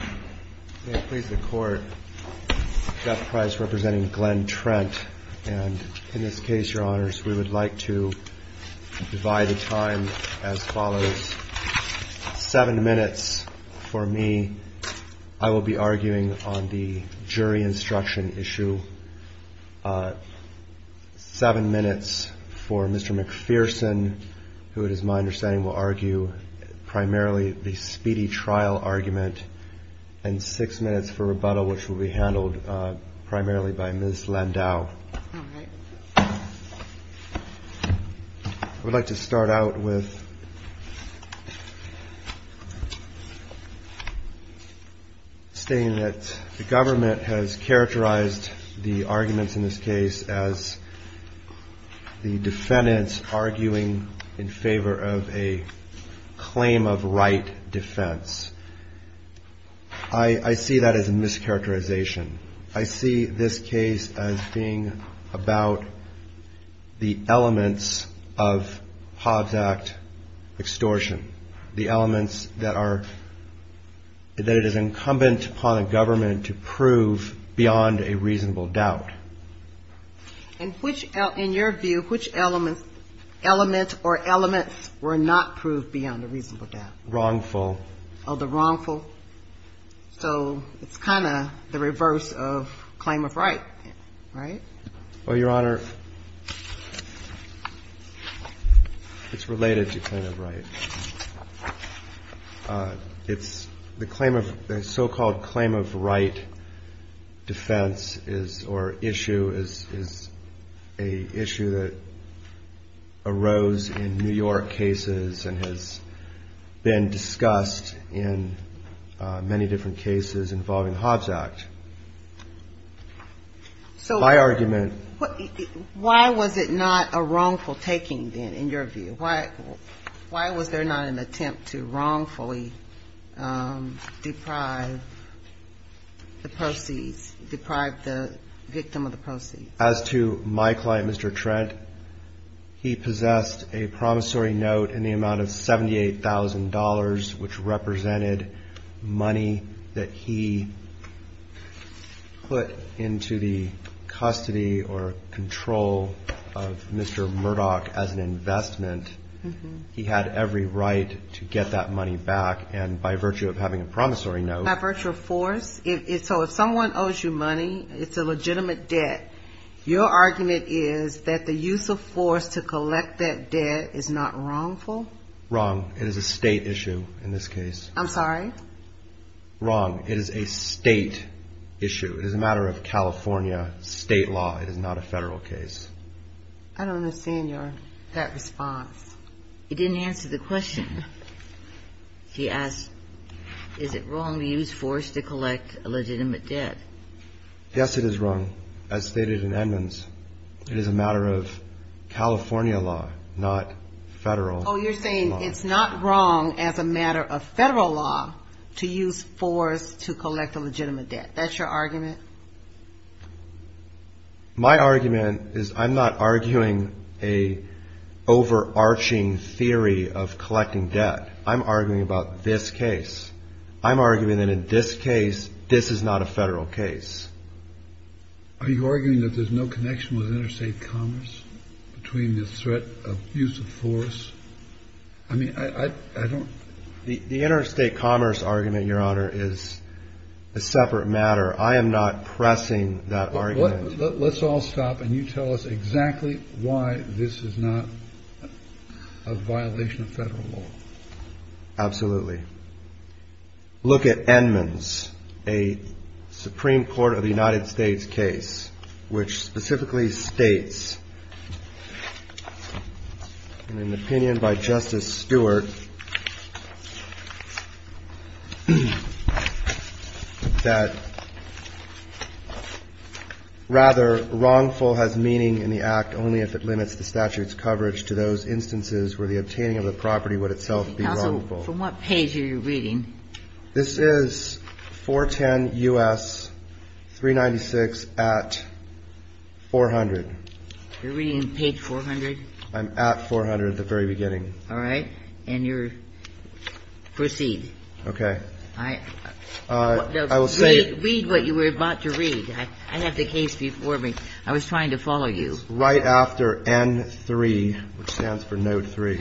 7 minutes for me. I will be arguing on the jury instruction issue. 7 minutes for Mr. McPherson, who it is my understanding will argue primarily the speedy trial argument, and 7 minutes for Mr. McPherson, who it is my understanding will argue primarily the speedy trial argument, and 6 minutes for rebuttal, which will be handled primarily by Ms. Landau. I would like to start out with stating that the government has characterized the arguments in this case as the defendants arguing in favor of a claim of right defense. I see that as a mischaracterization. I see this case as being about the elements of Hobbs Act extortion, the elements that are, that it is incumbent upon a government to prove beyond a reasonable doubt. And which, in your view, which elements, elements or elements were not proved beyond a reasonable doubt? Wrongful. Oh, the wrongful? So it's kind of the reverse of claim of right, right? Well, Your Honor, it's related to claim of right. It's the claim of, the so-called claim of right defense is, or issue is, is a issue that arose in New York cases and has been discussed in many different cases involving Hobbs Act. So why was it not a wrongful taking, then, in your view? Why was there not an attempt to wrongfully deprive the proceeds, deprive the victim of the proceeds? As to my client, Mr. Trent, he possessed a promissory note in the amount of $78,000, which represented money that he put into the custody or control of Mr. Murdoch as an investment. He had every right to get that money back. And by virtue of having a promissory note... Your argument is that the use of force to collect that debt is not wrongful? Wrong. It is a State issue in this case. I'm sorry? Wrong. It is a State issue. It is a matter of California State law. It is not a Federal case. I don't understand your, that response. He didn't answer the question. He asked, is it wrong to use force to collect a legitimate debt? Yes, it is wrong. As stated in Edmonds, it is a matter of California law, not Federal law. Oh, you're saying it's not wrong as a matter of Federal law to use force to collect a legitimate debt. That's your argument? My argument is I'm not arguing an overarching theory of collecting debt. I'm arguing about this case. I'm arguing that in this case, this is not a Federal case. Are you arguing that there's no connection with interstate commerce between the threat of use of force? I mean, I don't... The interstate commerce argument, Your Honor, is a separate matter. I am not pressing that argument. Let's all stop and you tell us exactly why this is not a violation of Federal law. Absolutely. Look at Edmonds, a Supreme Court of the United States case, which specifically states, in an opinion by Justice Stewart, that rather wrongful has meaning in the act only if it limits the statute's coverage to those instances where the obtaining of the property would itself be wrongful. From what page are you reading? This is 410 U.S. 396 at 400. You're reading page 400? I'm at 400 at the very beginning. All right. And you're... Proceed. Okay. Read what you were about to read. I have the case before me. I was trying to follow you. This is right after N3, which stands for Note 3.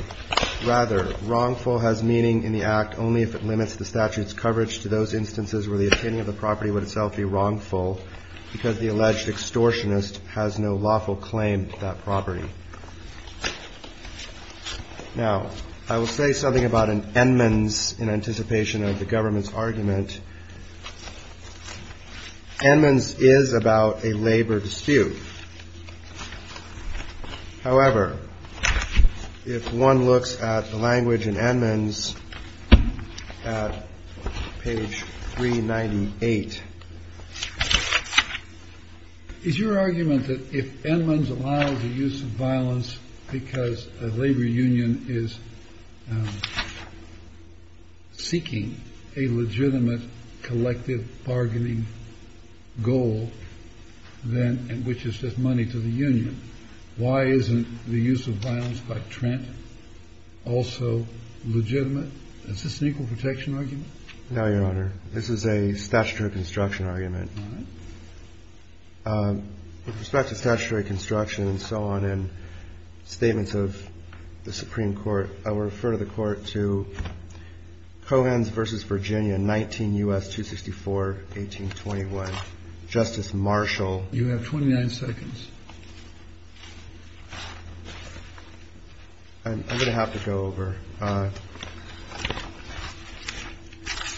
Rather, wrongful has meaning in the act only if it limits the statute's coverage to those instances where the obtaining of the property would itself be wrongful, because the alleged extortionist has no lawful claim to that property. Now, I will say something about an Edmonds in anticipation of the government's argument. Edmonds is about a labor dispute. However, if one looks at the language in Edmonds at page 398... I'm not sure if it's a good argument to use violence because a labor union is seeking a legitimate collective bargaining goal, which is just money to the union. Why isn't the use of violence by Trent also legitimate? Is this an equal protection argument? No, Your Honor. This is a statutory construction argument. All right. With respect to statutory construction and so on and statements of the Supreme Court, I will refer to the Court to Cohens v. Virginia, 19 U.S. 264, 1821. Justice Marshall. You have 29 seconds. I'm going to have to go over.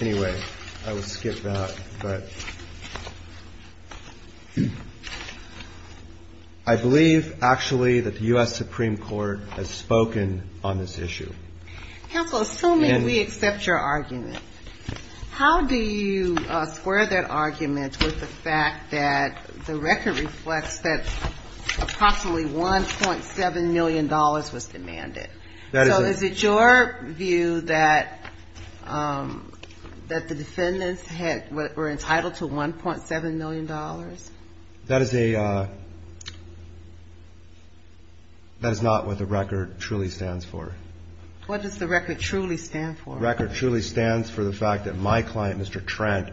Anyway, I will skip that. But I believe, actually, that the U.S. Supreme Court has spoken on this issue. Counsel, assuming we accept your argument, how do you square that argument with the fact that the record reflects that approximately $1.7 million was demanded? So is it your view that the defendants were entitled to $1.7 million? That is not what the record truly stands for. What does the record truly stand for? The record truly stands for the fact that my client, Mr. Trent,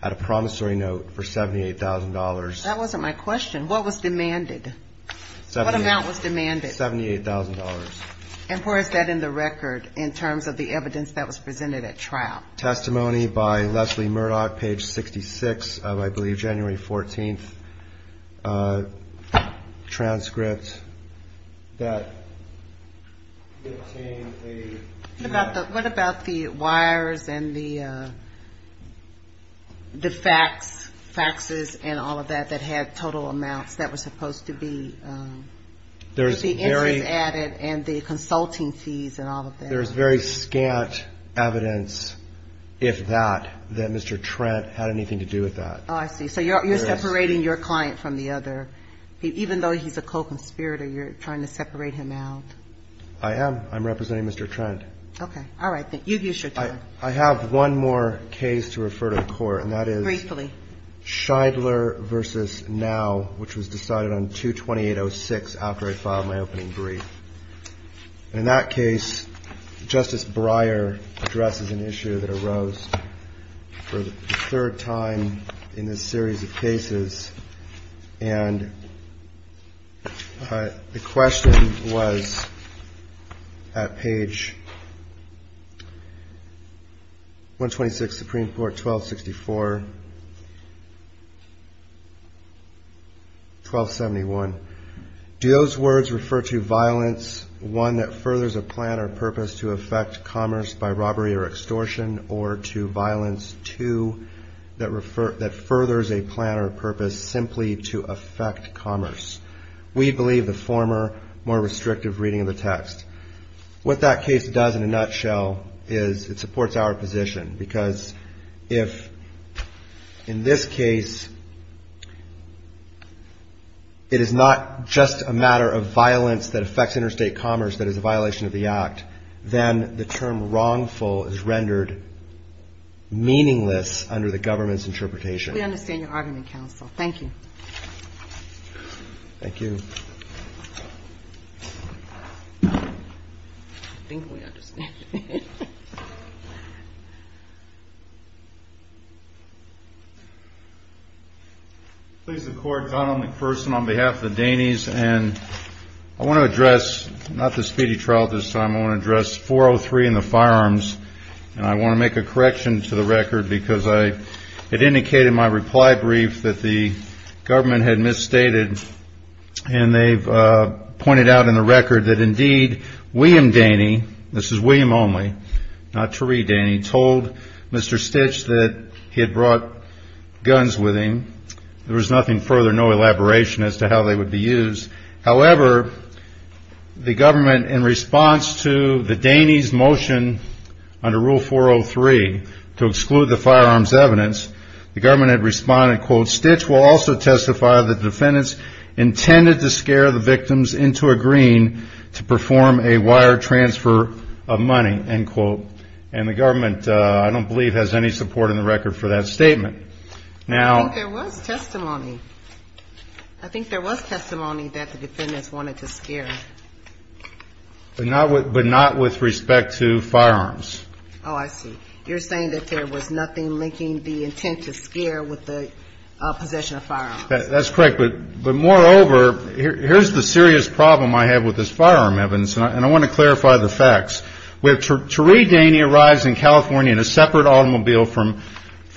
had a promissory note for $78,000. That wasn't my question. What was demanded? What amount was demanded? $78,000. And where is that in the record in terms of the evidence that was presented at trial? Testimony by Leslie Murdoch, page 66 of, I believe, January 14th transcript that obtained a... What about the wires and the faxes and all of that that had total amounts that were supposed to be... With the interest added and the consulting fees and all of that. There's very scant evidence, if that, that Mr. Trent had anything to do with that. Oh, I see. So you're separating your client from the other. Even though he's a co-conspirator, you're trying to separate him out. I am. I'm representing Mr. Trent. Okay. All right. You've used your time. I have one more case to refer to the Court, and that is... Briefly. Schindler v. Now, which was decided on 220806 after I filed my opening brief. And in that case, Justice Breyer addresses an issue that arose for the third time in this series of cases. And the question was at page 126, Supreme Court 1264, 1271. Do those words refer to violence, one, that furthers a plan or purpose to affect commerce by robbery or extortion, or to violence, two, that furthers a plan or purpose simply to affect commerce? We believe the former, more restrictive reading of the text. What that case does in a nutshell is it supports our position. Because if, in this case, it is not just a matter of violence that affects interstate commerce that is a violation of the Act, then the term wrongful is rendered meaningless under the government's interpretation. We understand your argument, counsel. Thank you. Thank you. I think we understand. Please, the Court. Donald McPherson on behalf of the Danes. I want to address not the speedy trial this time. I want to address 403 and the firearms. And I want to make a correction to the record because it indicated in my reply brief that the government had misstated. And they've pointed out in the record that, indeed, William Daney, this is William only, not Tariq Daney, told Mr. Stitch that he had brought guns with him. There was nothing further, no elaboration as to how they would be used. However, the government, in response to the Daney's motion under Rule 403 to exclude the firearms evidence, the government had responded, quote, Stitch will also testify that the defendants intended to scare the victims into agreeing to perform a wire transfer of money, end quote. And the government, I don't believe, has any support in the record for that statement. Now. I think there was testimony. I think there was testimony that the defendants wanted to scare. But not with respect to firearms. Oh, I see. You're saying that there was nothing linking the intent to scare with the possession of firearms. That's correct. But moreover, here's the serious problem I have with this firearm evidence, and I want to clarify the facts. Tariq Daney arrives in California in a separate automobile from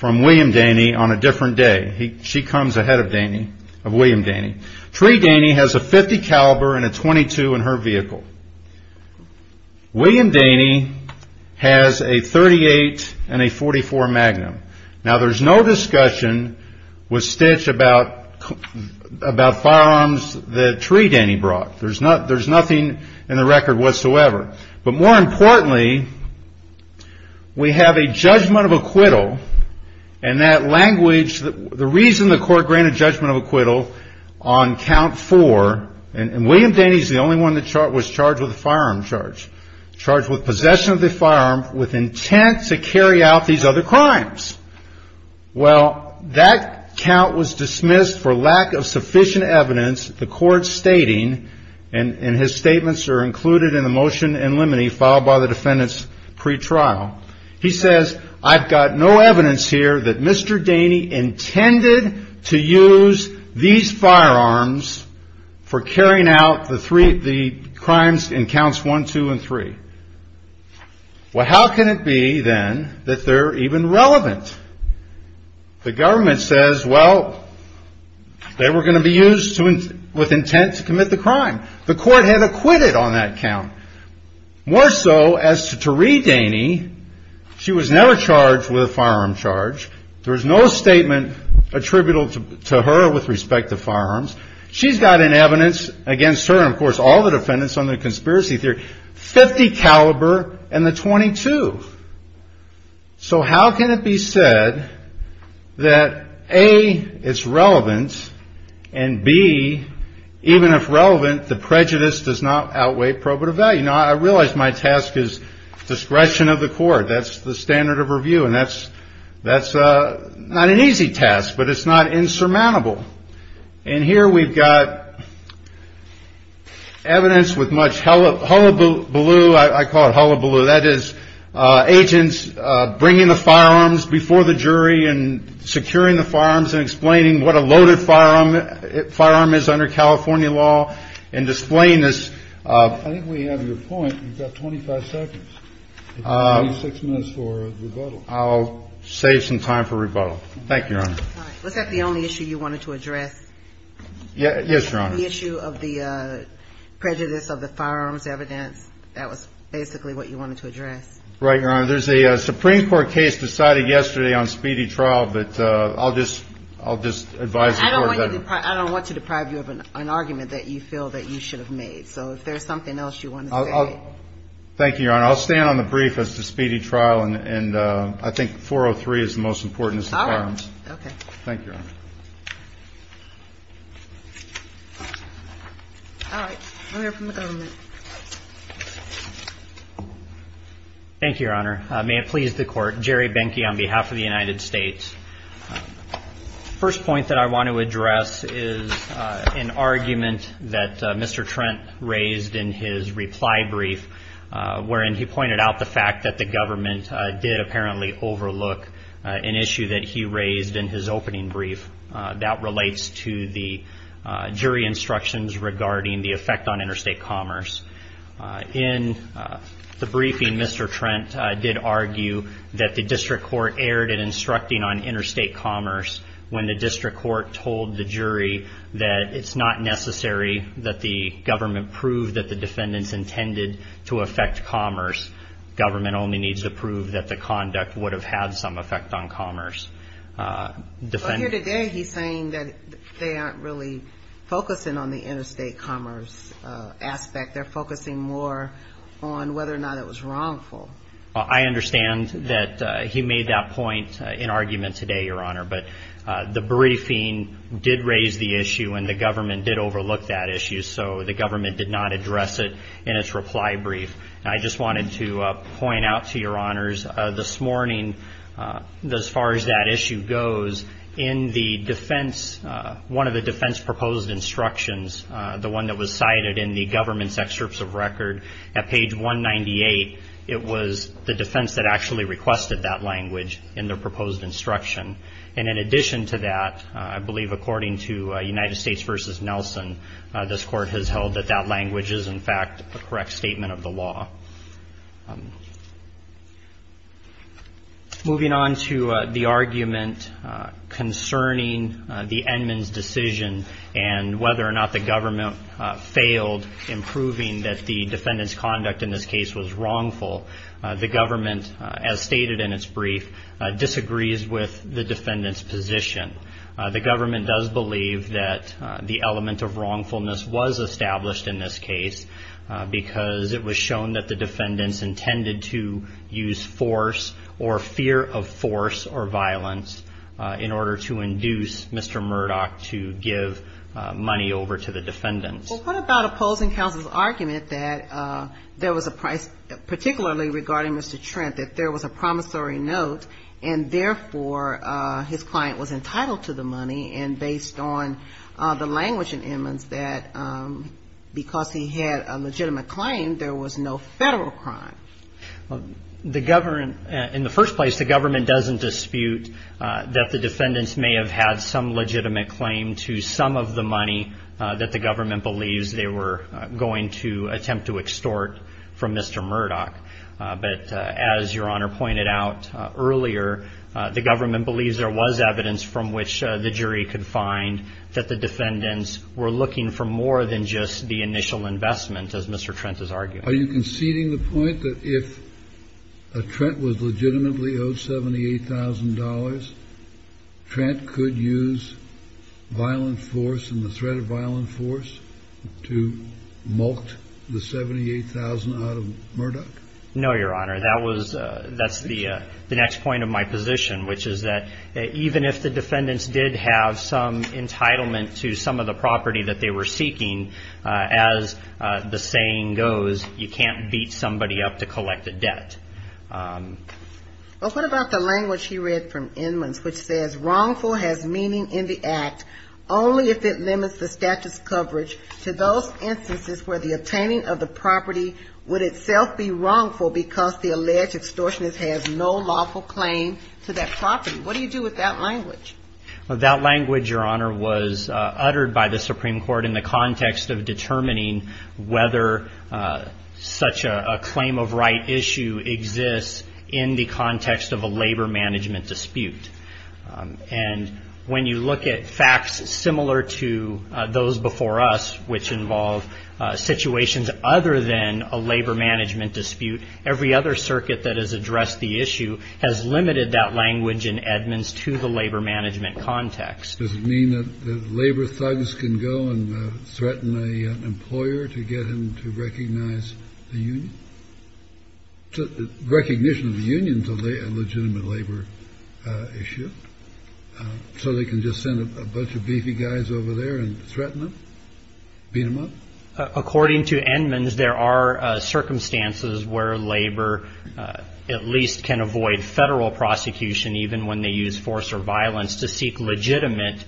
William Daney on a different day. She comes ahead of William Daney. Tariq Daney has a .50 caliber and a .22 in her vehicle. William Daney has a .38 and a .44 Magnum. Now, there's no discussion with Stitch about firearms that Tariq Daney brought. There's nothing in the record whatsoever. But more importantly, we have a judgment of acquittal. And that language, the reason the court granted judgment of acquittal on count four, and William Daney's the only one that was charged with a firearm charge, charged with possession of the firearm with intent to carry out these other crimes. Well, that count was dismissed for lack of sufficient evidence. The court stating, and his statements are included in the motion in limine, followed by the defendant's pretrial, he says, I've got no evidence here that Mr. Daney intended to use these firearms for carrying out the three, the crimes in counts one, two, and three. Well, how can it be, then, that they're even relevant? The government says, well, they were going to be used with intent to commit the crime. The court had acquitted on that count. More so, as to Tariq Daney, she was never charged with a firearm charge. There was no statement attributable to her with respect to firearms. She's got an evidence against her and, of course, all the defendants on the conspiracy theory, .50 caliber and the .22. So how can it be said that, A, it's relevant, and, B, even if relevant, the prejudice does not outweigh probative value? Now, I realize my task is discretion of the court. That's the standard of review, and that's not an easy task, but it's not insurmountable. And here we've got evidence with much hullabaloo, I call it hullabaloo. That is agents bringing the firearms before the jury and securing the firearms and explaining what a loaded firearm is under California law and displaying this. I think we have your point. You've got 25 seconds, 26 minutes for rebuttal. I'll save some time for rebuttal. Thank you, Your Honor. Was that the only issue you wanted to address? Yes, Your Honor. The issue of the prejudice of the firearms evidence, that was basically what you wanted to address. Right, Your Honor. There's a Supreme Court case decided yesterday on speedy trial, but I'll just advise the court. I don't want to deprive you of an argument that you feel that you should have made. So if there's something else you want to say. Thank you, Your Honor. I'll stand on the brief as to speedy trial, and I think 403 is the most important. All right. Okay. Thank you, Your Honor. All right. We'll hear from the government. Thank you, Your Honor. May it please the court, Jerry Benke on behalf of the United States. The first point that I want to address is an argument that Mr. Trent raised in his reply brief, wherein he pointed out the fact that the government did apparently overlook an issue that he raised in his opening brief. That relates to the jury instructions regarding the effect on interstate commerce. In the briefing, Mr. Trent did argue that the district court erred in instructing on interstate commerce when the district court told the jury that it's not necessary that the government prove that the defendants intended to affect commerce. Government only needs to prove that the conduct would have had some effect on commerce. Here today, he's saying that they aren't really focusing on the interstate commerce aspect. They're focusing more on whether or not it was wrongful. I understand that he made that point in argument today, Your Honor, but the briefing did raise the issue and the government did overlook that issue, so the government did not address it in its reply brief. I just wanted to point out to Your Honors, this morning, as far as that issue goes, in one of the defense proposed instructions, the one that was cited in the government's excerpts of record at page 198, it was the defense that actually requested that language in their proposed instruction. In addition to that, I believe according to United States v. Nelson, this court has held that that language is, in fact, a correct statement of the law. Moving on to the argument concerning the Edmunds decision and whether or not the government failed in proving that the defendant's conduct in this case was wrongful, the government, as stated in its brief, disagrees with the defendant's position. The government does believe that the element of wrongfulness was established in this case because it was shown that the defendants intended to use force or fear of force or violence in order to induce Mr. Murdoch to give money over to the defendants. Well, what about opposing counsel's argument that there was a particularly regarding Mr. And, therefore, his client was entitled to the money, and based on the language in Edmunds, that because he had a legitimate claim, there was no federal crime? The government, in the first place, the government doesn't dispute that the defendants may have had some legitimate claim to some of the money that the government believes they were going to attempt to extort from Mr. Murdoch. But, as Your Honor pointed out earlier, the government believes there was evidence from which the jury could find that the defendants were looking for more than just the initial investment, as Mr. Trent is arguing. Are you conceding the point that if Trent was legitimately owed $78,000, Trent could use violent force and the threat of violent force to molt the $78,000 out of Murdoch? No, Your Honor, that's the next point of my position, which is that even if the defendants did have some entitlement to some of the property that they were seeking, as the saying goes, you can't beat somebody up to collect a debt. Well, what about the language he read from Inman's, which says, wrongful has meaning in the act only if it limits the statute's coverage to those instances where the obtaining of the property would itself be wrongful because the alleged extortionist has no lawful claim to that property. What do you do with that language? That language, Your Honor, was uttered by the Supreme Court in the context of determining whether such a claim of right issue exists in the context of a labor management dispute. And when you look at facts similar to those before us, which involve situations other than a labor management dispute, every other circuit that has addressed the issue has limited that language in Edman's to the labor management context. Does it mean that the labor thugs can go and threaten an employer to get him to recognize the union? Recognition of the unions of a legitimate labor issue. So they can just send a bunch of beefy guys over there and threaten them, beat them up. According to Edman's, there are circumstances where labor at least can avoid federal prosecution, even when they use force or violence, to seek legitimate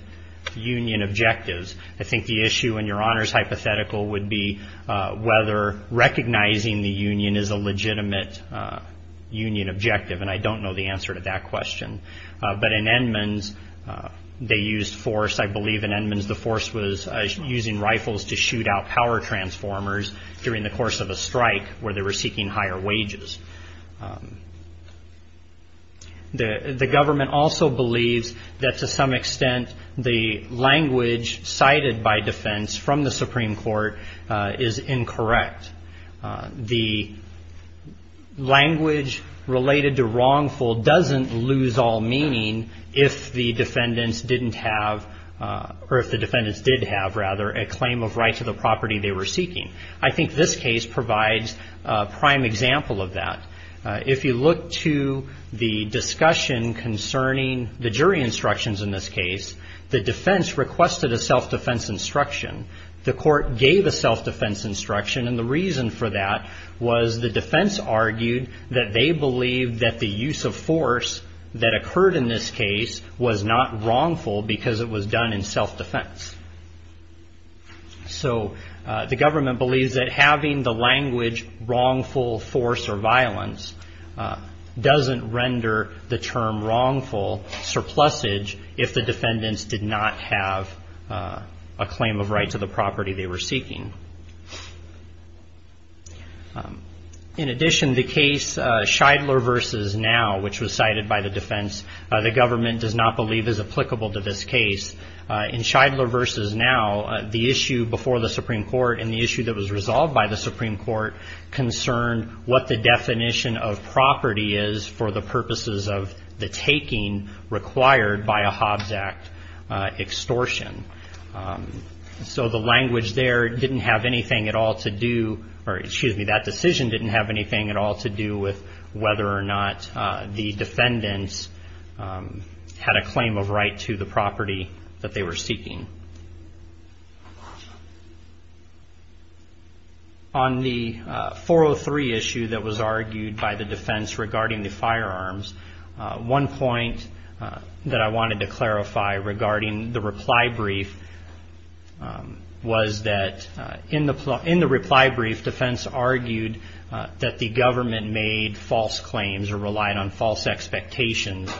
union objectives. I think the issue in Your Honor's hypothetical would be whether recognizing the union is a legitimate union objective, and I don't know the answer to that question. But in Edman's, they used force. I believe in Edman's the force was using rifles to shoot out power transformers during the course of a strike where they were seeking higher wages. The government also believes that to some extent the language cited by defense from the Supreme Court is incorrect. The language related to wrongful doesn't lose all meaning if the defendants didn't have, or if the defendants did have rather, a claim of right to the property they were seeking. I think this case provides a prime example of that. If you look to the discussion concerning the jury instructions in this case, the defense requested a self-defense instruction. The court gave a self-defense instruction, and the reason for that was the defense argued that they believed that the use of force that occurred in this case was not wrongful because it was done in self-defense. So the government believes that having the language wrongful force or violence doesn't render the term wrongful surplusage if the defendants did not have a claim of right to the property they were seeking. In addition, the case Scheidler v. Now, which was cited by the defense, the government does not believe is applicable to this case. In Scheidler v. Now, the issue before the Supreme Court and the issue that was resolved by the Supreme Court concerned what the definition of property is for the purposes of the taking required by a Hobbs Act extortion. So the language there didn't have anything at all to do, or excuse me, that decision didn't have anything at all to do with whether or not the defendants had a claim of right to the property that they were seeking. On the 403 issue that was argued by the defense regarding the firearms, one point that I wanted to clarify regarding the reply brief was that in the reply brief, the defense argued that the government made false claims or relied on false expectations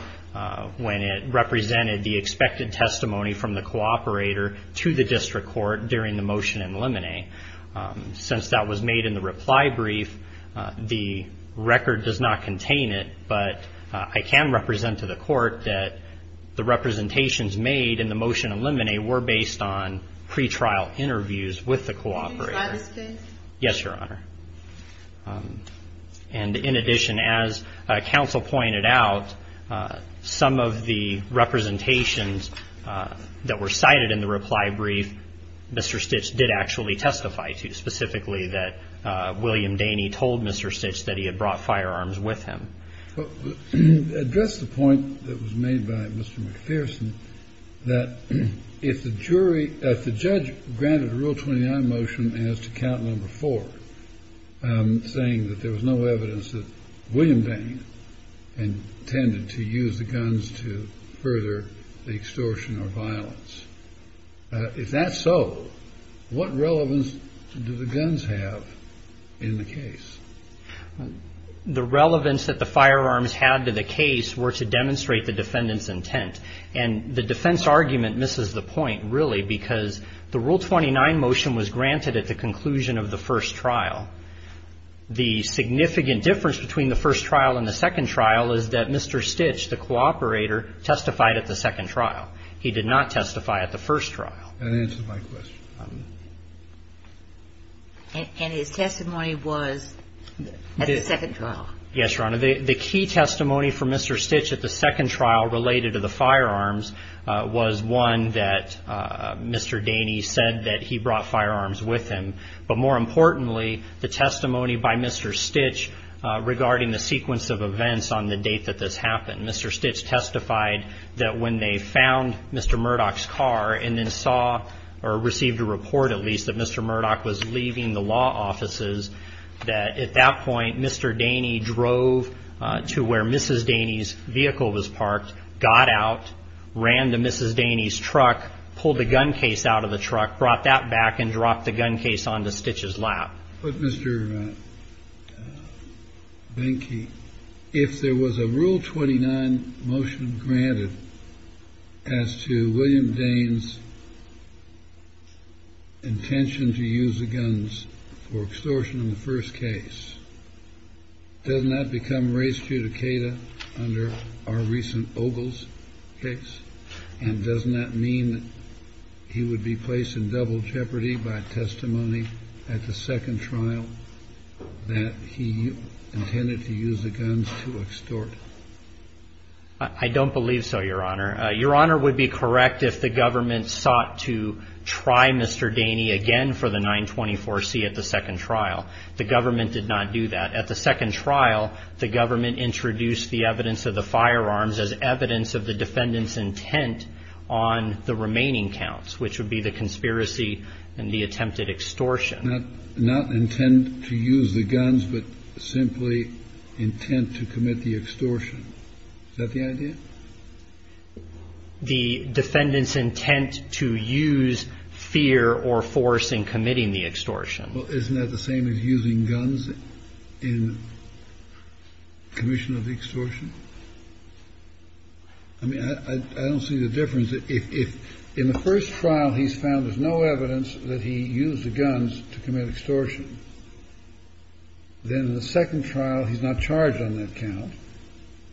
when it represented the expected testimony from the cooperator to the district court during the motion in limine. Since that was made in the reply brief, the record does not contain it, but I can represent to the court that the representations made in the motion in limine Yes, Your Honor. And in addition, as counsel pointed out, some of the representations that were cited in the reply brief, Mr. Stitch did actually testify to, specifically that William Daney told Mr. Stitch that he had brought firearms with him. Address the point that was made by Mr. McPherson that if the jury, if the judge granted a Rule 29 motion as to count number four, saying that there was no evidence that William Daney intended to use the guns to further the extortion or violence. If that's so, what relevance do the guns have in the case? The relevance that the firearms had to the case were to demonstrate the defendant's intent. And the defense argument misses the point, really, because the Rule 29 motion was granted at the conclusion of the first trial. The significant difference between the first trial and the second trial is that Mr. Stitch, the cooperator, testified at the second trial. He did not testify at the first trial. That answers my question. And his testimony was at the second trial? Yes, Your Honor. The key testimony from Mr. Stitch at the second trial related to the firearms was one that Mr. Daney said that he brought firearms with him. But more importantly, the testimony by Mr. Stitch regarding the sequence of events on the date that this happened. Mr. Stitch testified that when they found Mr. Murdoch's car and then saw or received a report, at least, that Mr. Murdoch was leaving the law offices, that at that point, Mr. Daney drove to where Mrs. Daney's vehicle was parked, got out, ran to Mrs. Daney's truck, pulled the gun case out of the truck, brought that back and dropped the gun case onto Stitch's lap. But, Mr. Benke, if there was a Rule 29 motion granted as to William Dane's intention to use the guns for extortion in the first case, doesn't that become res judicata under our recent Ogles case? And doesn't that mean that he would be placed in double jeopardy by testimony at the second trial that he intended to use the guns to extort? I don't believe so, Your Honor. Your Honor would be correct if the government sought to try Mr. Daney again for the 924C at the second trial. The government did not do that. At the second trial, the government introduced the evidence of the firearms as evidence of the defendant's intent on the remaining counts, which would be the conspiracy and the attempted extortion. Not intent to use the guns, but simply intent to commit the extortion. Is that the idea? The defendant's intent to use fear or force in committing the extortion. Well, isn't that the same as using guns in commission of the extortion? I mean, I don't see the difference. If in the first trial he's found there's no evidence that he used the guns to commit extortion, then in the second trial he's not charged on that count.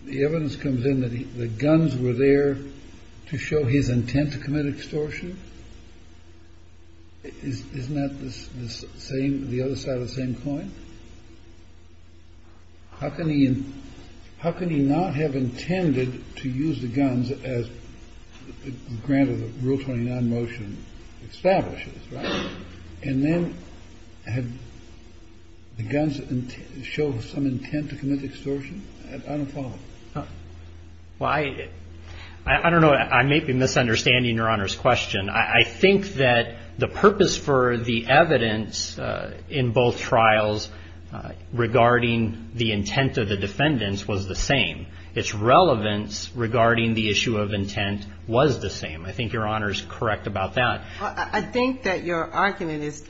The evidence comes in that the guns were there to show his intent to commit extortion. Isn't that the same, the other side of the same coin? How can he not have intended to use the guns as granted the Rule 29 motion establishes, right? And then had the guns show some intent to commit extortion? I don't follow. Well, I don't know. I may be misunderstanding Your Honor's question. I think that the purpose for the evidence in both trials regarding the intent of the defendants was the same. Its relevance regarding the issue of intent was the same. I think Your Honor's correct about that. I think that your argument is,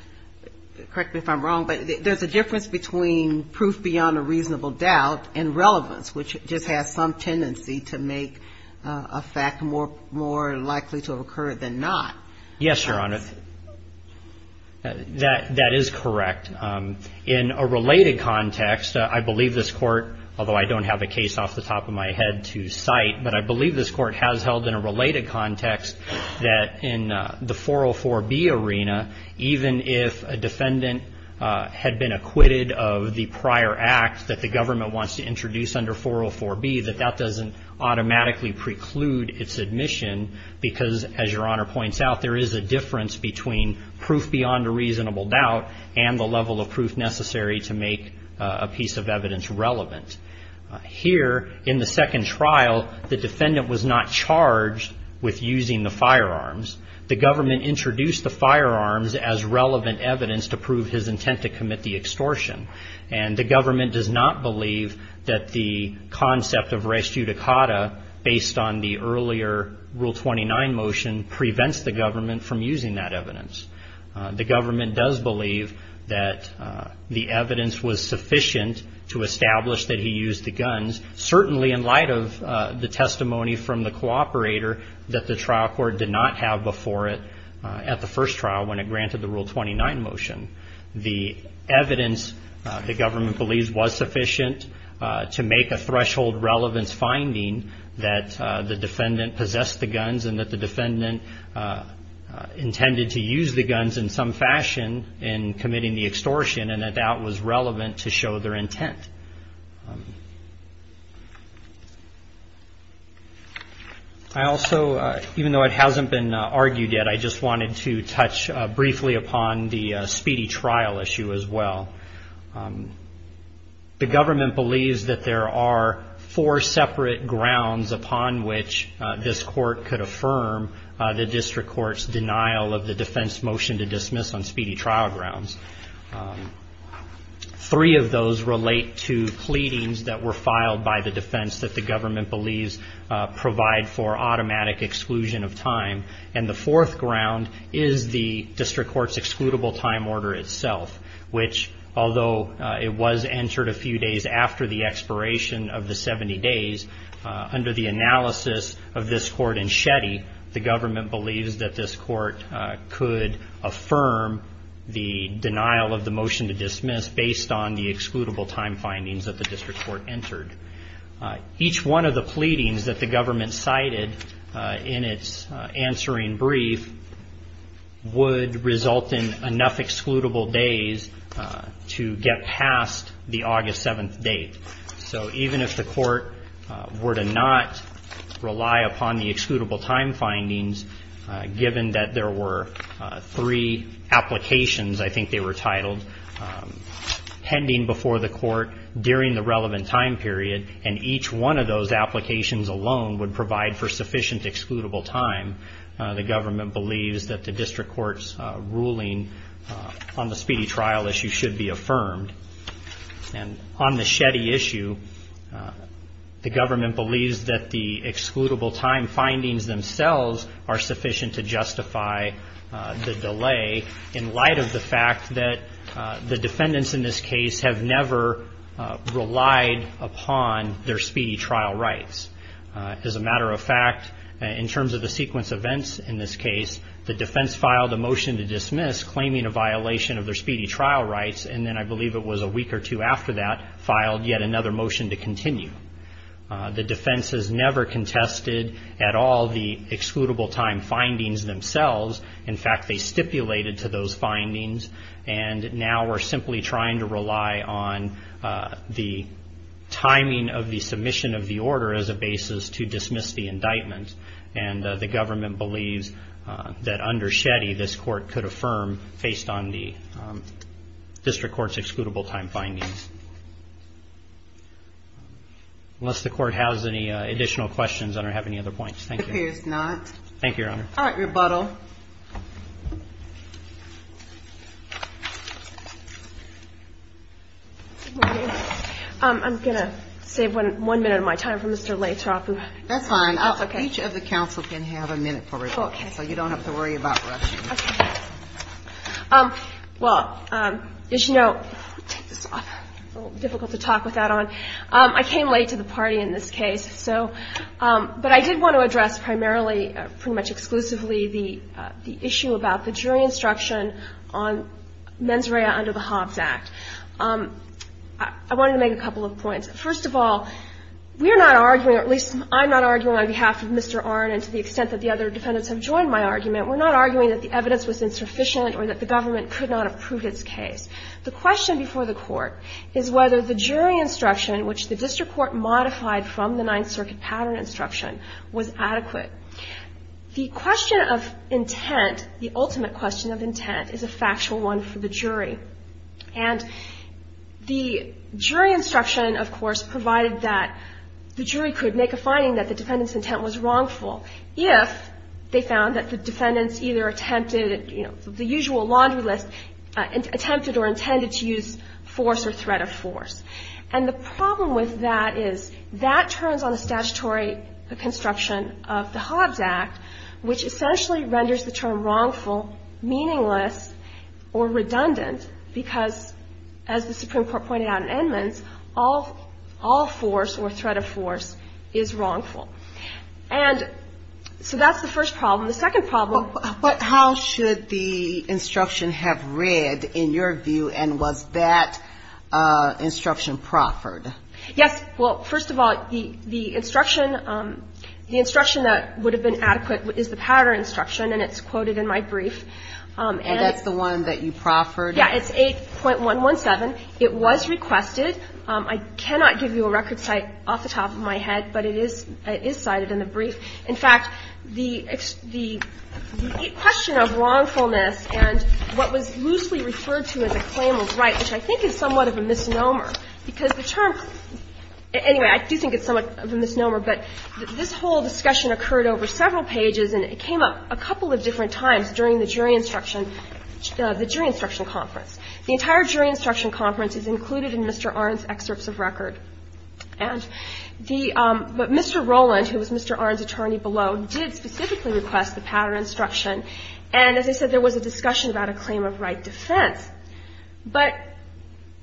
correct me if I'm wrong, but there's a difference between proof beyond a reasonable doubt and relevance, which just has some tendency to make a fact more likely to occur than not. Yes, Your Honor. That is correct. In a related context, I believe this Court, although I don't have a case off the top of my head to cite, but I believe this Court has held in a related context that in the 404B arena, even if a defendant had been acquitted of the prior act that the government wants to introduce under 404B, that that doesn't automatically preclude its admission because, as Your Honor points out, there is a difference between proof beyond a reasonable doubt and the level of proof necessary to make a piece of evidence relevant. Here, in the second trial, the defendant was not charged with using the firearms. The government introduced the firearms as relevant evidence to prove his intent to commit the extortion, and the government does not believe that the concept of res judicata, based on the earlier Rule 29 motion, prevents the government from using that evidence. The government does believe that the evidence was sufficient to establish that he used the guns, certainly in light of the testimony from the cooperator that the trial court did not have before it at the first trial when it granted the Rule 29 motion. The evidence, the government believes, was sufficient to make a threshold relevance finding that the defendant possessed the guns and that the defendant intended to use the guns in some fashion in committing the extortion and that that was relevant to show their intent. I also, even though it hasn't been argued yet, I just wanted to touch briefly upon the speedy trial issue as well. The government believes that there are four separate grounds upon which this court could affirm the district court's denial of the defense motion to dismiss on speedy trial grounds. Three of those relate to pleadings that were filed by the defense that the government believes provide for automatic exclusion of time, and the fourth ground is the district court's excludable time order itself, which, although it was entered a few days after the expiration of the 70 days, under the analysis of this court in Shetty, the government believes that this court could affirm the denial of the motion to dismiss based on the excludable time findings that the district court entered. Each one of the pleadings that the government cited in its answering brief would result in enough excludable days to get past the August 7th date. So even if the court were to not rely upon the excludable time findings, given that there were three applications, I think they were titled, pending before the court during the relevant time period, and each one of those applications alone would provide for sufficient excludable time, the government believes that the district court's ruling on the speedy trial issue should be affirmed. And on the Shetty issue, the government believes that the excludable time findings themselves are sufficient to justify the delay in light of the fact that the defendants in this case have never relied upon their speedy trial rights. As a matter of fact, in terms of the sequence of events in this case, the defense filed a motion to dismiss claiming a violation of their speedy trial rights, and then I believe it was a week or two after that, filed yet another motion to continue. The defense has never contested at all the excludable time findings themselves. In fact, they stipulated to those findings, and now we're simply trying to rely on the timing of the submission of the order as a basis to dismiss the indictment. And the government believes that under Shetty, this court could affirm based on the district court's excludable time findings. Unless the court has any additional questions, I don't have any other points. Thank you. It appears not. Thank you, Your Honor. All right, rebuttal. I'm going to save one minute of my time for Mr. Lathrop. That's fine. Each of the counsel can have a minute for rebuttal, so you don't have to worry about rushing. Well, as you know, difficult to talk with that on. I came late to the party in this case. But I did want to address primarily, pretty much exclusively, the issue about the jury instruction on mens rea under the Hobbs Act. I wanted to make a couple of points. First of all, we're not arguing, or at least I'm not arguing on behalf of Mr. Arnn and to the extent that the other defendants have joined my argument, we're not arguing that the evidence was insufficient or that the government could not have proved its case. The question before the court is whether the jury instruction, which the district court modified from the Ninth Circuit pattern instruction, was adequate. The question of intent, the ultimate question of intent, is a factual one for the jury. And the jury instruction, of course, provided that the jury could make a finding that the defendant's intent was wrongful if they found that the defendants either attempted, you know, the usual laundry list, attempted or intended to use force or threat of force. And the problem with that is that turns on the statutory construction of the Hobbs Act, which essentially renders the term wrongful, meaningless, or redundant because, as the Supreme Court pointed out in Edmonds, all force or threat of force is wrongful. And so that's the first problem. The second problem that we have in this case is that the jury instruction is not adequate. And so I'm going to ask you to explain to me what the jury instruction has read in your view. And was that instruction proffered? Yes. Well, first of all, the instruction that would have been adequate is the pattern instruction, and it's quoted in my brief. And that's the one that you proffered? Yes. It's 8.117. It was requested. I cannot give you a record cite off the top of my head, but it is cited in the brief. In fact, the question of wrongfulness and what was loosely referred to as a claimant's right, which I think is somewhat of a misnomer, because the term – anyway, I do think it's somewhat of a misnomer, but this whole discussion occurred over several pages and it came up a couple of different times during the jury instruction conference. The entire jury instruction conference is included in Mr. Arnn's excerpts of record. And the – but Mr. Rowland, who was Mr. Arnn's attorney below, did specifically request the pattern instruction. And as I said, there was a discussion about a claim of right defense. But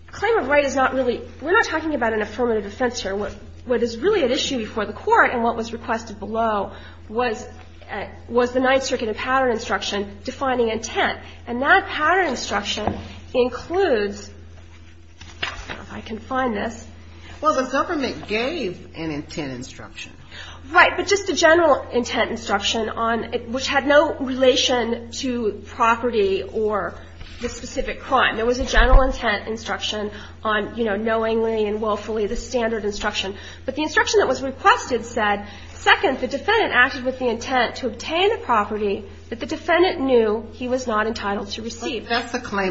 claim of right is not really – we're not talking about an affirmative defense here. What is really at issue before the Court and what was requested below was the Ninth Circuit and pattern instruction defining intent. And that pattern instruction includes – I don't know if I can find this. Sotomayor Well, the government gave an intent instruction. Harrington Right. But just a general intent instruction on – which had no relation to property or the specific crime. There was a general intent instruction on, you know, knowingly and willfully, the standard instruction. But the instruction that was requested said, second, the defendant acted with the That's the claim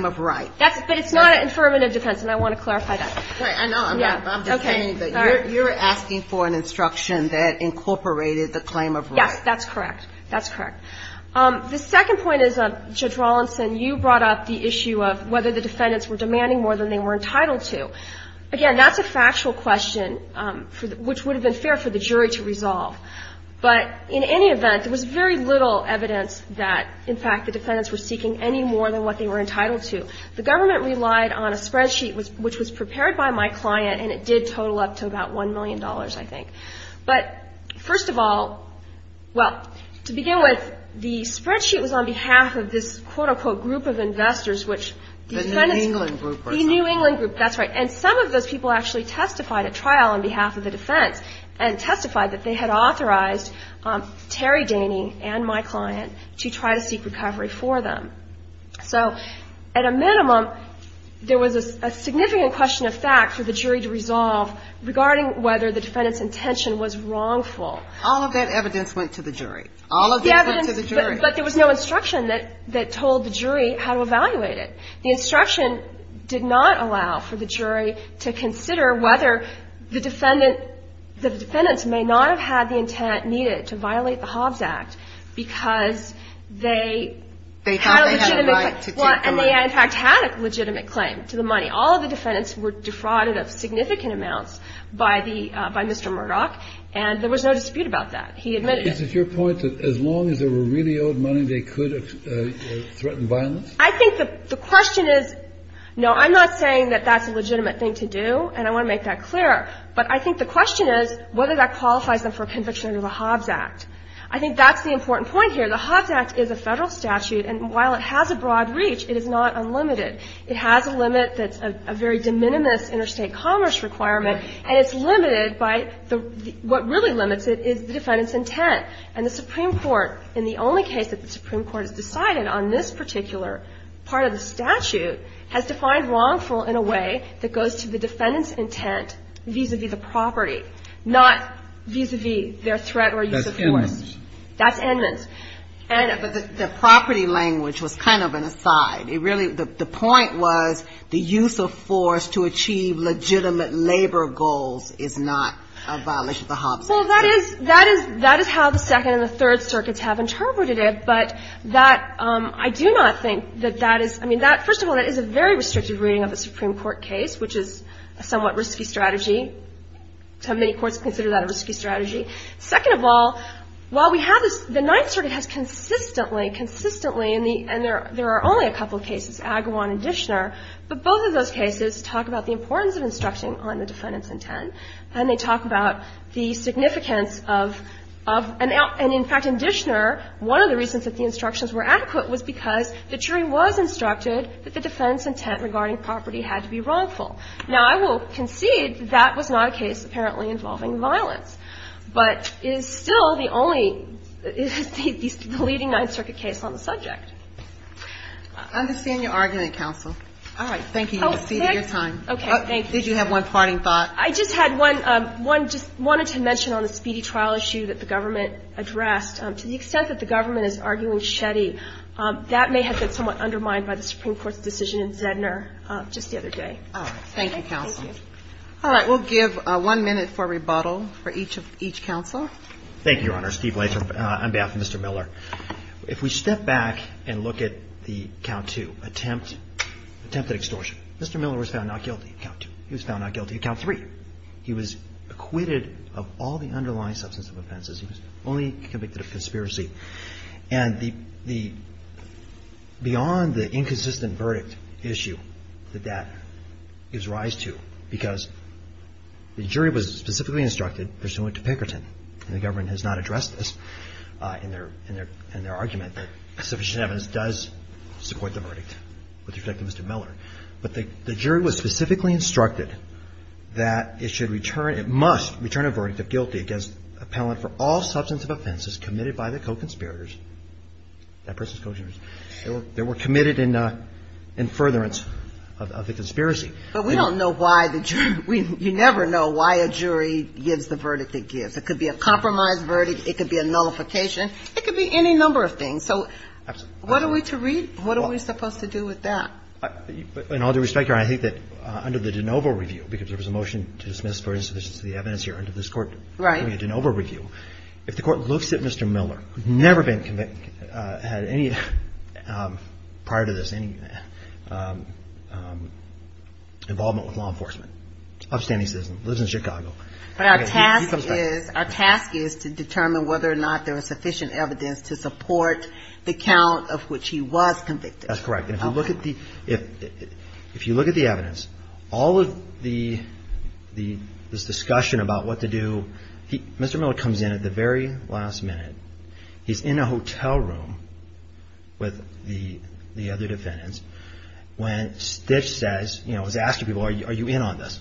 of right. Harrington But it's not an affirmative defense, and I want to clarify that. Sotomayor Right. I know. I'm just saying that you're asking for an instruction that incorporated the claim of right. Harrington Yes, that's correct. That's correct. The second point is, Judge Rawlinson, you brought up the issue of whether the defendants were demanding more than they were entitled to. Again, that's a factual question, which would have been fair for the jury to resolve. But in any event, there was very little evidence that, in fact, the defendants were seeking any more than what they were entitled to. The government relied on a spreadsheet, which was prepared by my client, and it did total up to about $1 million, I think. But first of all – well, to begin with, the spreadsheet was on behalf of this quote-unquote group of investors, which defendants – Sotomayor The New England group or something. Harrington The New England group. That's right. And some of those people actually testified at trial on behalf of the defense and testified that they had authorized Terry Daney and my client to try to seek recovery for them. So at a minimum, there was a significant question of fact for the jury to resolve regarding whether the defendant's intention was wrongful. All of that evidence went to the jury. All of it went to the jury. But there was no instruction that told the jury how to evaluate it. The instruction did not allow for the jury to consider whether the defendant may not have had the intent needed to violate the Hobbs Act because they had a legitimate claim to the money. And they, in fact, had a legitimate claim to the money. All of the defendants were defrauded of significant amounts by the – by Mr. Murdoch, and there was no dispute about that. He admitted it. Kennedy Is it your point that as long as they were really owed money, they could threaten violence? Harrington I think the question is – no, I'm not saying that that's a legitimate thing to do, and I want to make that clear. But I think the question is whether that qualifies them for conviction under the Hobbs Act. I think that's the important point here. The Hobbs Act is a Federal statute, and while it has a broad reach, it is not unlimited. It has a limit that's a very de minimis interstate commerce requirement, and it's limited by the – what really limits it is the defendant's intent. And the Supreme Court, in the only case that the Supreme Court has decided on this particular part of the statute, has defined wrongful in a way that goes to the defendant's intent vis-à-vis the property, not vis-à-vis their threat or use of force. Kennedy That's Edmonds. Harrington That's Edmonds. And the property language was kind of an aside. It really – the point was the use of force to achieve legitimate labor goals is not a violation of the Hobbs Act. Well, that is – that is how the Second and the Third Circuits have interpreted it, but that – I do not think that that is – I mean, that – first of all, that is a very restrictive reading of a Supreme Court case, which is a somewhat risky strategy. Many courts consider that a risky strategy. Second of all, while we have this – the Ninth Circuit has consistently, consistently in the – and there are only a couple of cases, Agawam and Dishner, but both of those cases talk about the importance of instructing on the defendant's intent, and they talk about the significance of – and, in fact, in Dishner, one of the reasons that the instructions were adequate was because the jury was instructed that the defendant's intent regarding property had to be wrongful. Now, I will concede that that was not a case apparently involving violence, but it is still the only – the leading Ninth Circuit case on the subject. I understand your argument, counsel. All right. Thank you. You've exceeded your time. Okay. Thank you. Did you have one parting thought? I just had one – just wanted to mention on the speedy trial issue that the government addressed. To the extent that the government is arguing Shetty, that may have been somewhat undermined by the Supreme Court's decision in Zedner just the other day. All right. Thank you, counsel. All right. We'll give one minute for rebuttal for each of – each counsel. Thank you, Your Honor. Steve Latham on behalf of Mr. Miller. If we step back and look at the Count II attempt, attempted extortion, Mr. Miller was found not guilty of Count II. He was found not guilty of Count III. He was acquitted of all the underlying substance of offenses. He was only convicted of conspiracy. And the – beyond the inconsistent verdict issue that that gives rise to, because the jury was specifically instructed, pursuant to Pinkerton, and the government has not addressed this in their argument, that sufficient evidence does support the verdict with respect to Mr. Miller. But the jury was specifically instructed that it should return – it must return a verdict of guilty against appellant for all substance of offenses committed by the co-conspirators, that person's co-conspirators, that were committed in furtherance of the conspiracy. But we don't know why the jury – you never know why a jury gives the verdict it gives. It could be a compromised verdict. It could be a nullification. It could be any number of things. So what are we to read? What are we supposed to do with that? In all due respect, Your Honor, I think that under the de novo review, because there was a motion to dismiss for insufficiency of the evidence here under this court. Right. Under the de novo review, if the Court looks at Mr. Miller, who had never been convicted, had any – prior to this, any involvement with law enforcement, upstanding citizen, lives in Chicago. But our task is – our task is to determine whether or not there is sufficient evidence to support the count of which he was convicted. That's correct. And if you look at the – if you look at the evidence, all of the – this discussion about what to do – Mr. Miller comes in at the very last minute. He's in a hotel room with the other defendants when Stitch says – you know, is asking people, are you in on this?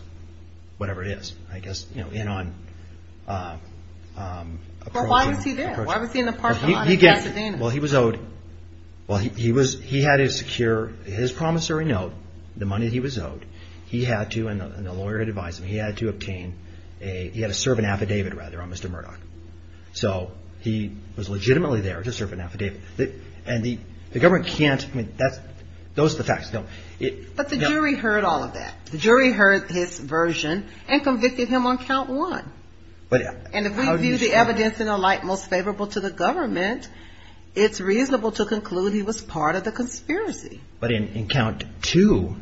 Whatever it is. I guess, you know, in on – Well, why was he there? Why was he in the parking lot in Pasadena? Well, he was owed – well, he was – he had to secure his promissory note, the money that he was owed. He had to – and the lawyer advised him – he had to obtain a – he had to serve an affidavit, rather, on Mr. Murdoch. So he was legitimately there to serve an affidavit. And the government can't – I mean, that's – those are the facts. But the jury heard all of that. The jury heard his version and convicted him on count one. But – And if we view the evidence in the light most favorable to the government, it's reasonable to conclude he was part of the conspiracy. But in count two,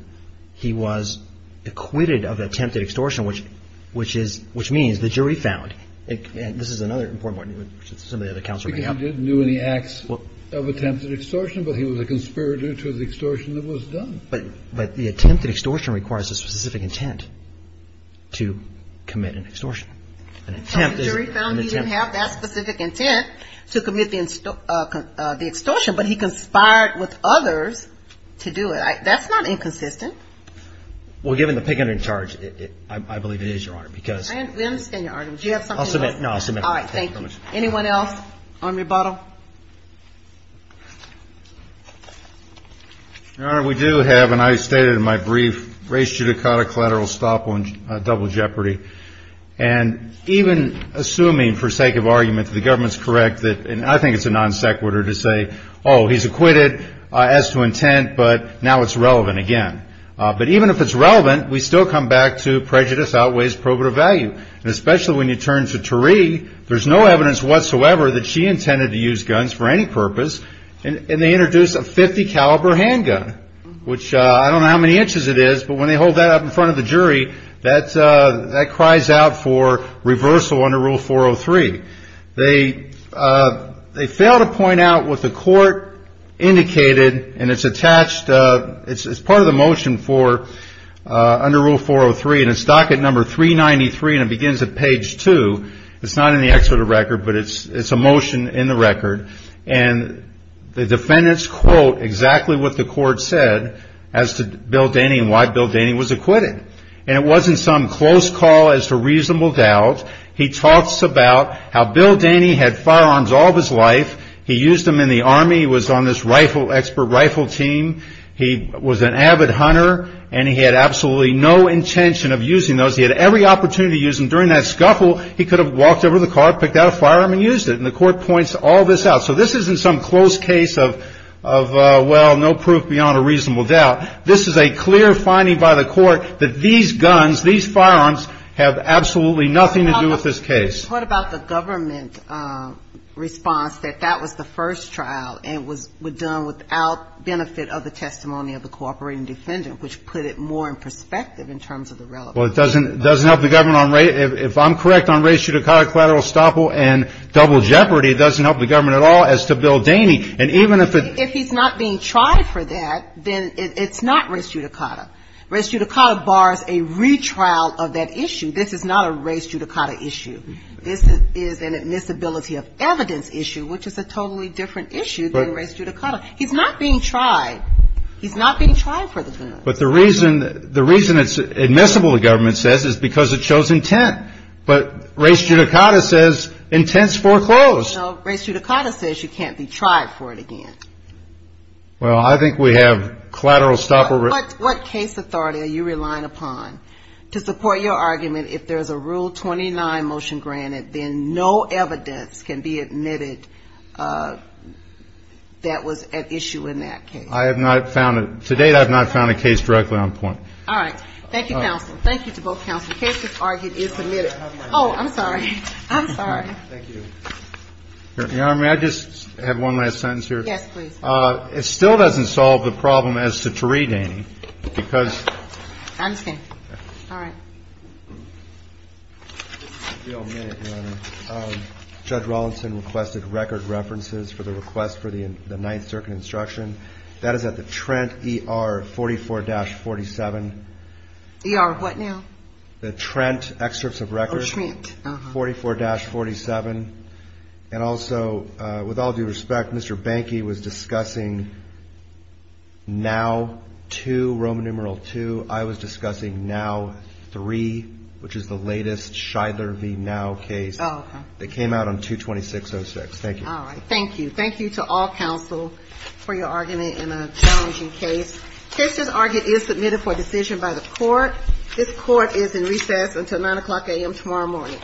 he was acquitted of attempted extortion, which is – which means the jury found – and this is another important point, which some of the other counsel may have. He didn't do any acts of attempted extortion, but he was a conspirator to the extortion that was done. But the attempted extortion requires a specific intent to commit an extortion. And the jury found he didn't have that specific intent to commit the extortion, but he conspired with others to do it. That's not inconsistent. Well, given the picketing charge, I believe it is, Your Honor, because – We understand your argument. Do you have something else? I'll submit – no, I'll submit. All right, thank you. Anyone else on rebuttal? Your Honor, we do have, and I stated in my brief, race, judicata, collateral, estoppel, and double jeopardy. And even assuming, for sake of argument, the government's correct that – and I think it's a non sequitur to say, oh, he's acquitted as to intent, but now it's relevant again. But even if it's relevant, we still come back to prejudice outweighs probative value. And especially when you turn to Tariq, there's no evidence whatsoever that she intended to use guns for any purpose, and they introduce a .50 caliber handgun, which I don't know how many inches it is, but when they hold that up in front of the jury, that cries out for reversal under Rule 403. They fail to point out what the court indicated, and it's attached – it's part of the motion for – under Rule 403, and it's docket number 393, and it begins at page 2. It's not in the excerpt of the record, but it's a motion in the record. And the defendants quote exactly what the court said as to Bill Daney and why Bill Daney was acquitted. And it wasn't some close call as to reasonable doubt. He talks about how Bill Daney had firearms all of his life. He used them in the Army. He was on this rifle – expert rifle team. He was an avid hunter, and he had absolutely no intention of using those. He had every opportunity to use them. During that scuffle, he could have walked over to the car, picked out a firearm, and used it. And the court points all this out. So this isn't some close case of, well, no proof beyond a reasonable doubt. This is a clear finding by the court that these guns, these firearms, have absolutely nothing to do with this case. What about the government response that that was the first trial, and it was done without benefit of the testimony of the cooperating defendant, which put it more in perspective in terms of the relevance? Well, it doesn't help the government on – if I'm correct on ratio to collateral estoppel and double jeopardy, it doesn't help the government at all as to Bill Daney. And even if it – If he's not being tried for that, then it's not race judicata. Race judicata bars a retrial of that issue. This is not a race judicata issue. This is an admissibility of evidence issue, which is a totally different issue than race judicata. He's not being tried. He's not being tried for the gun. But the reason it's admissible, the government says, is because it shows intent. But race judicata says intense foreclose. No, race judicata says you can't be tried for it again. Well, I think we have collateral estoppel risk. What case authority are you relying upon to support your argument if there's a Rule 29 motion granted, then no evidence can be admitted that was at issue in that case? I have not found it. To date, I have not found a case directly on point. All right. Thank you, counsel. Thank you to both counsel. The case is argued and submitted. Oh, I'm sorry. I'm sorry. Thank you. Your Honor, may I just have one last sentence here? Yes, please. It still doesn't solve the problem as to Taree Dainey because. I understand. All right. This is a real minute, Your Honor. Judge Rollinson requested record references for the request for the Ninth Circuit instruction. That is at the Trent ER 44-47. ER what now? The Trent excerpts of records. Oh, Trent. Uh-huh. 44-47. And also, with all due respect, Mr. Bankey was discussing NOW 2, Roman numeral 2. I was discussing NOW 3, which is the latest Shidler v. NOW case. Oh, okay. That came out on 22606. Thank you. All right. Thank you. Thank you to all counsel for your argument in a challenging case. The case is argued and submitted for decision by the Court. This Court is in recess until 9 o'clock a.m. tomorrow morning. Thank you. Thank you. Thank you.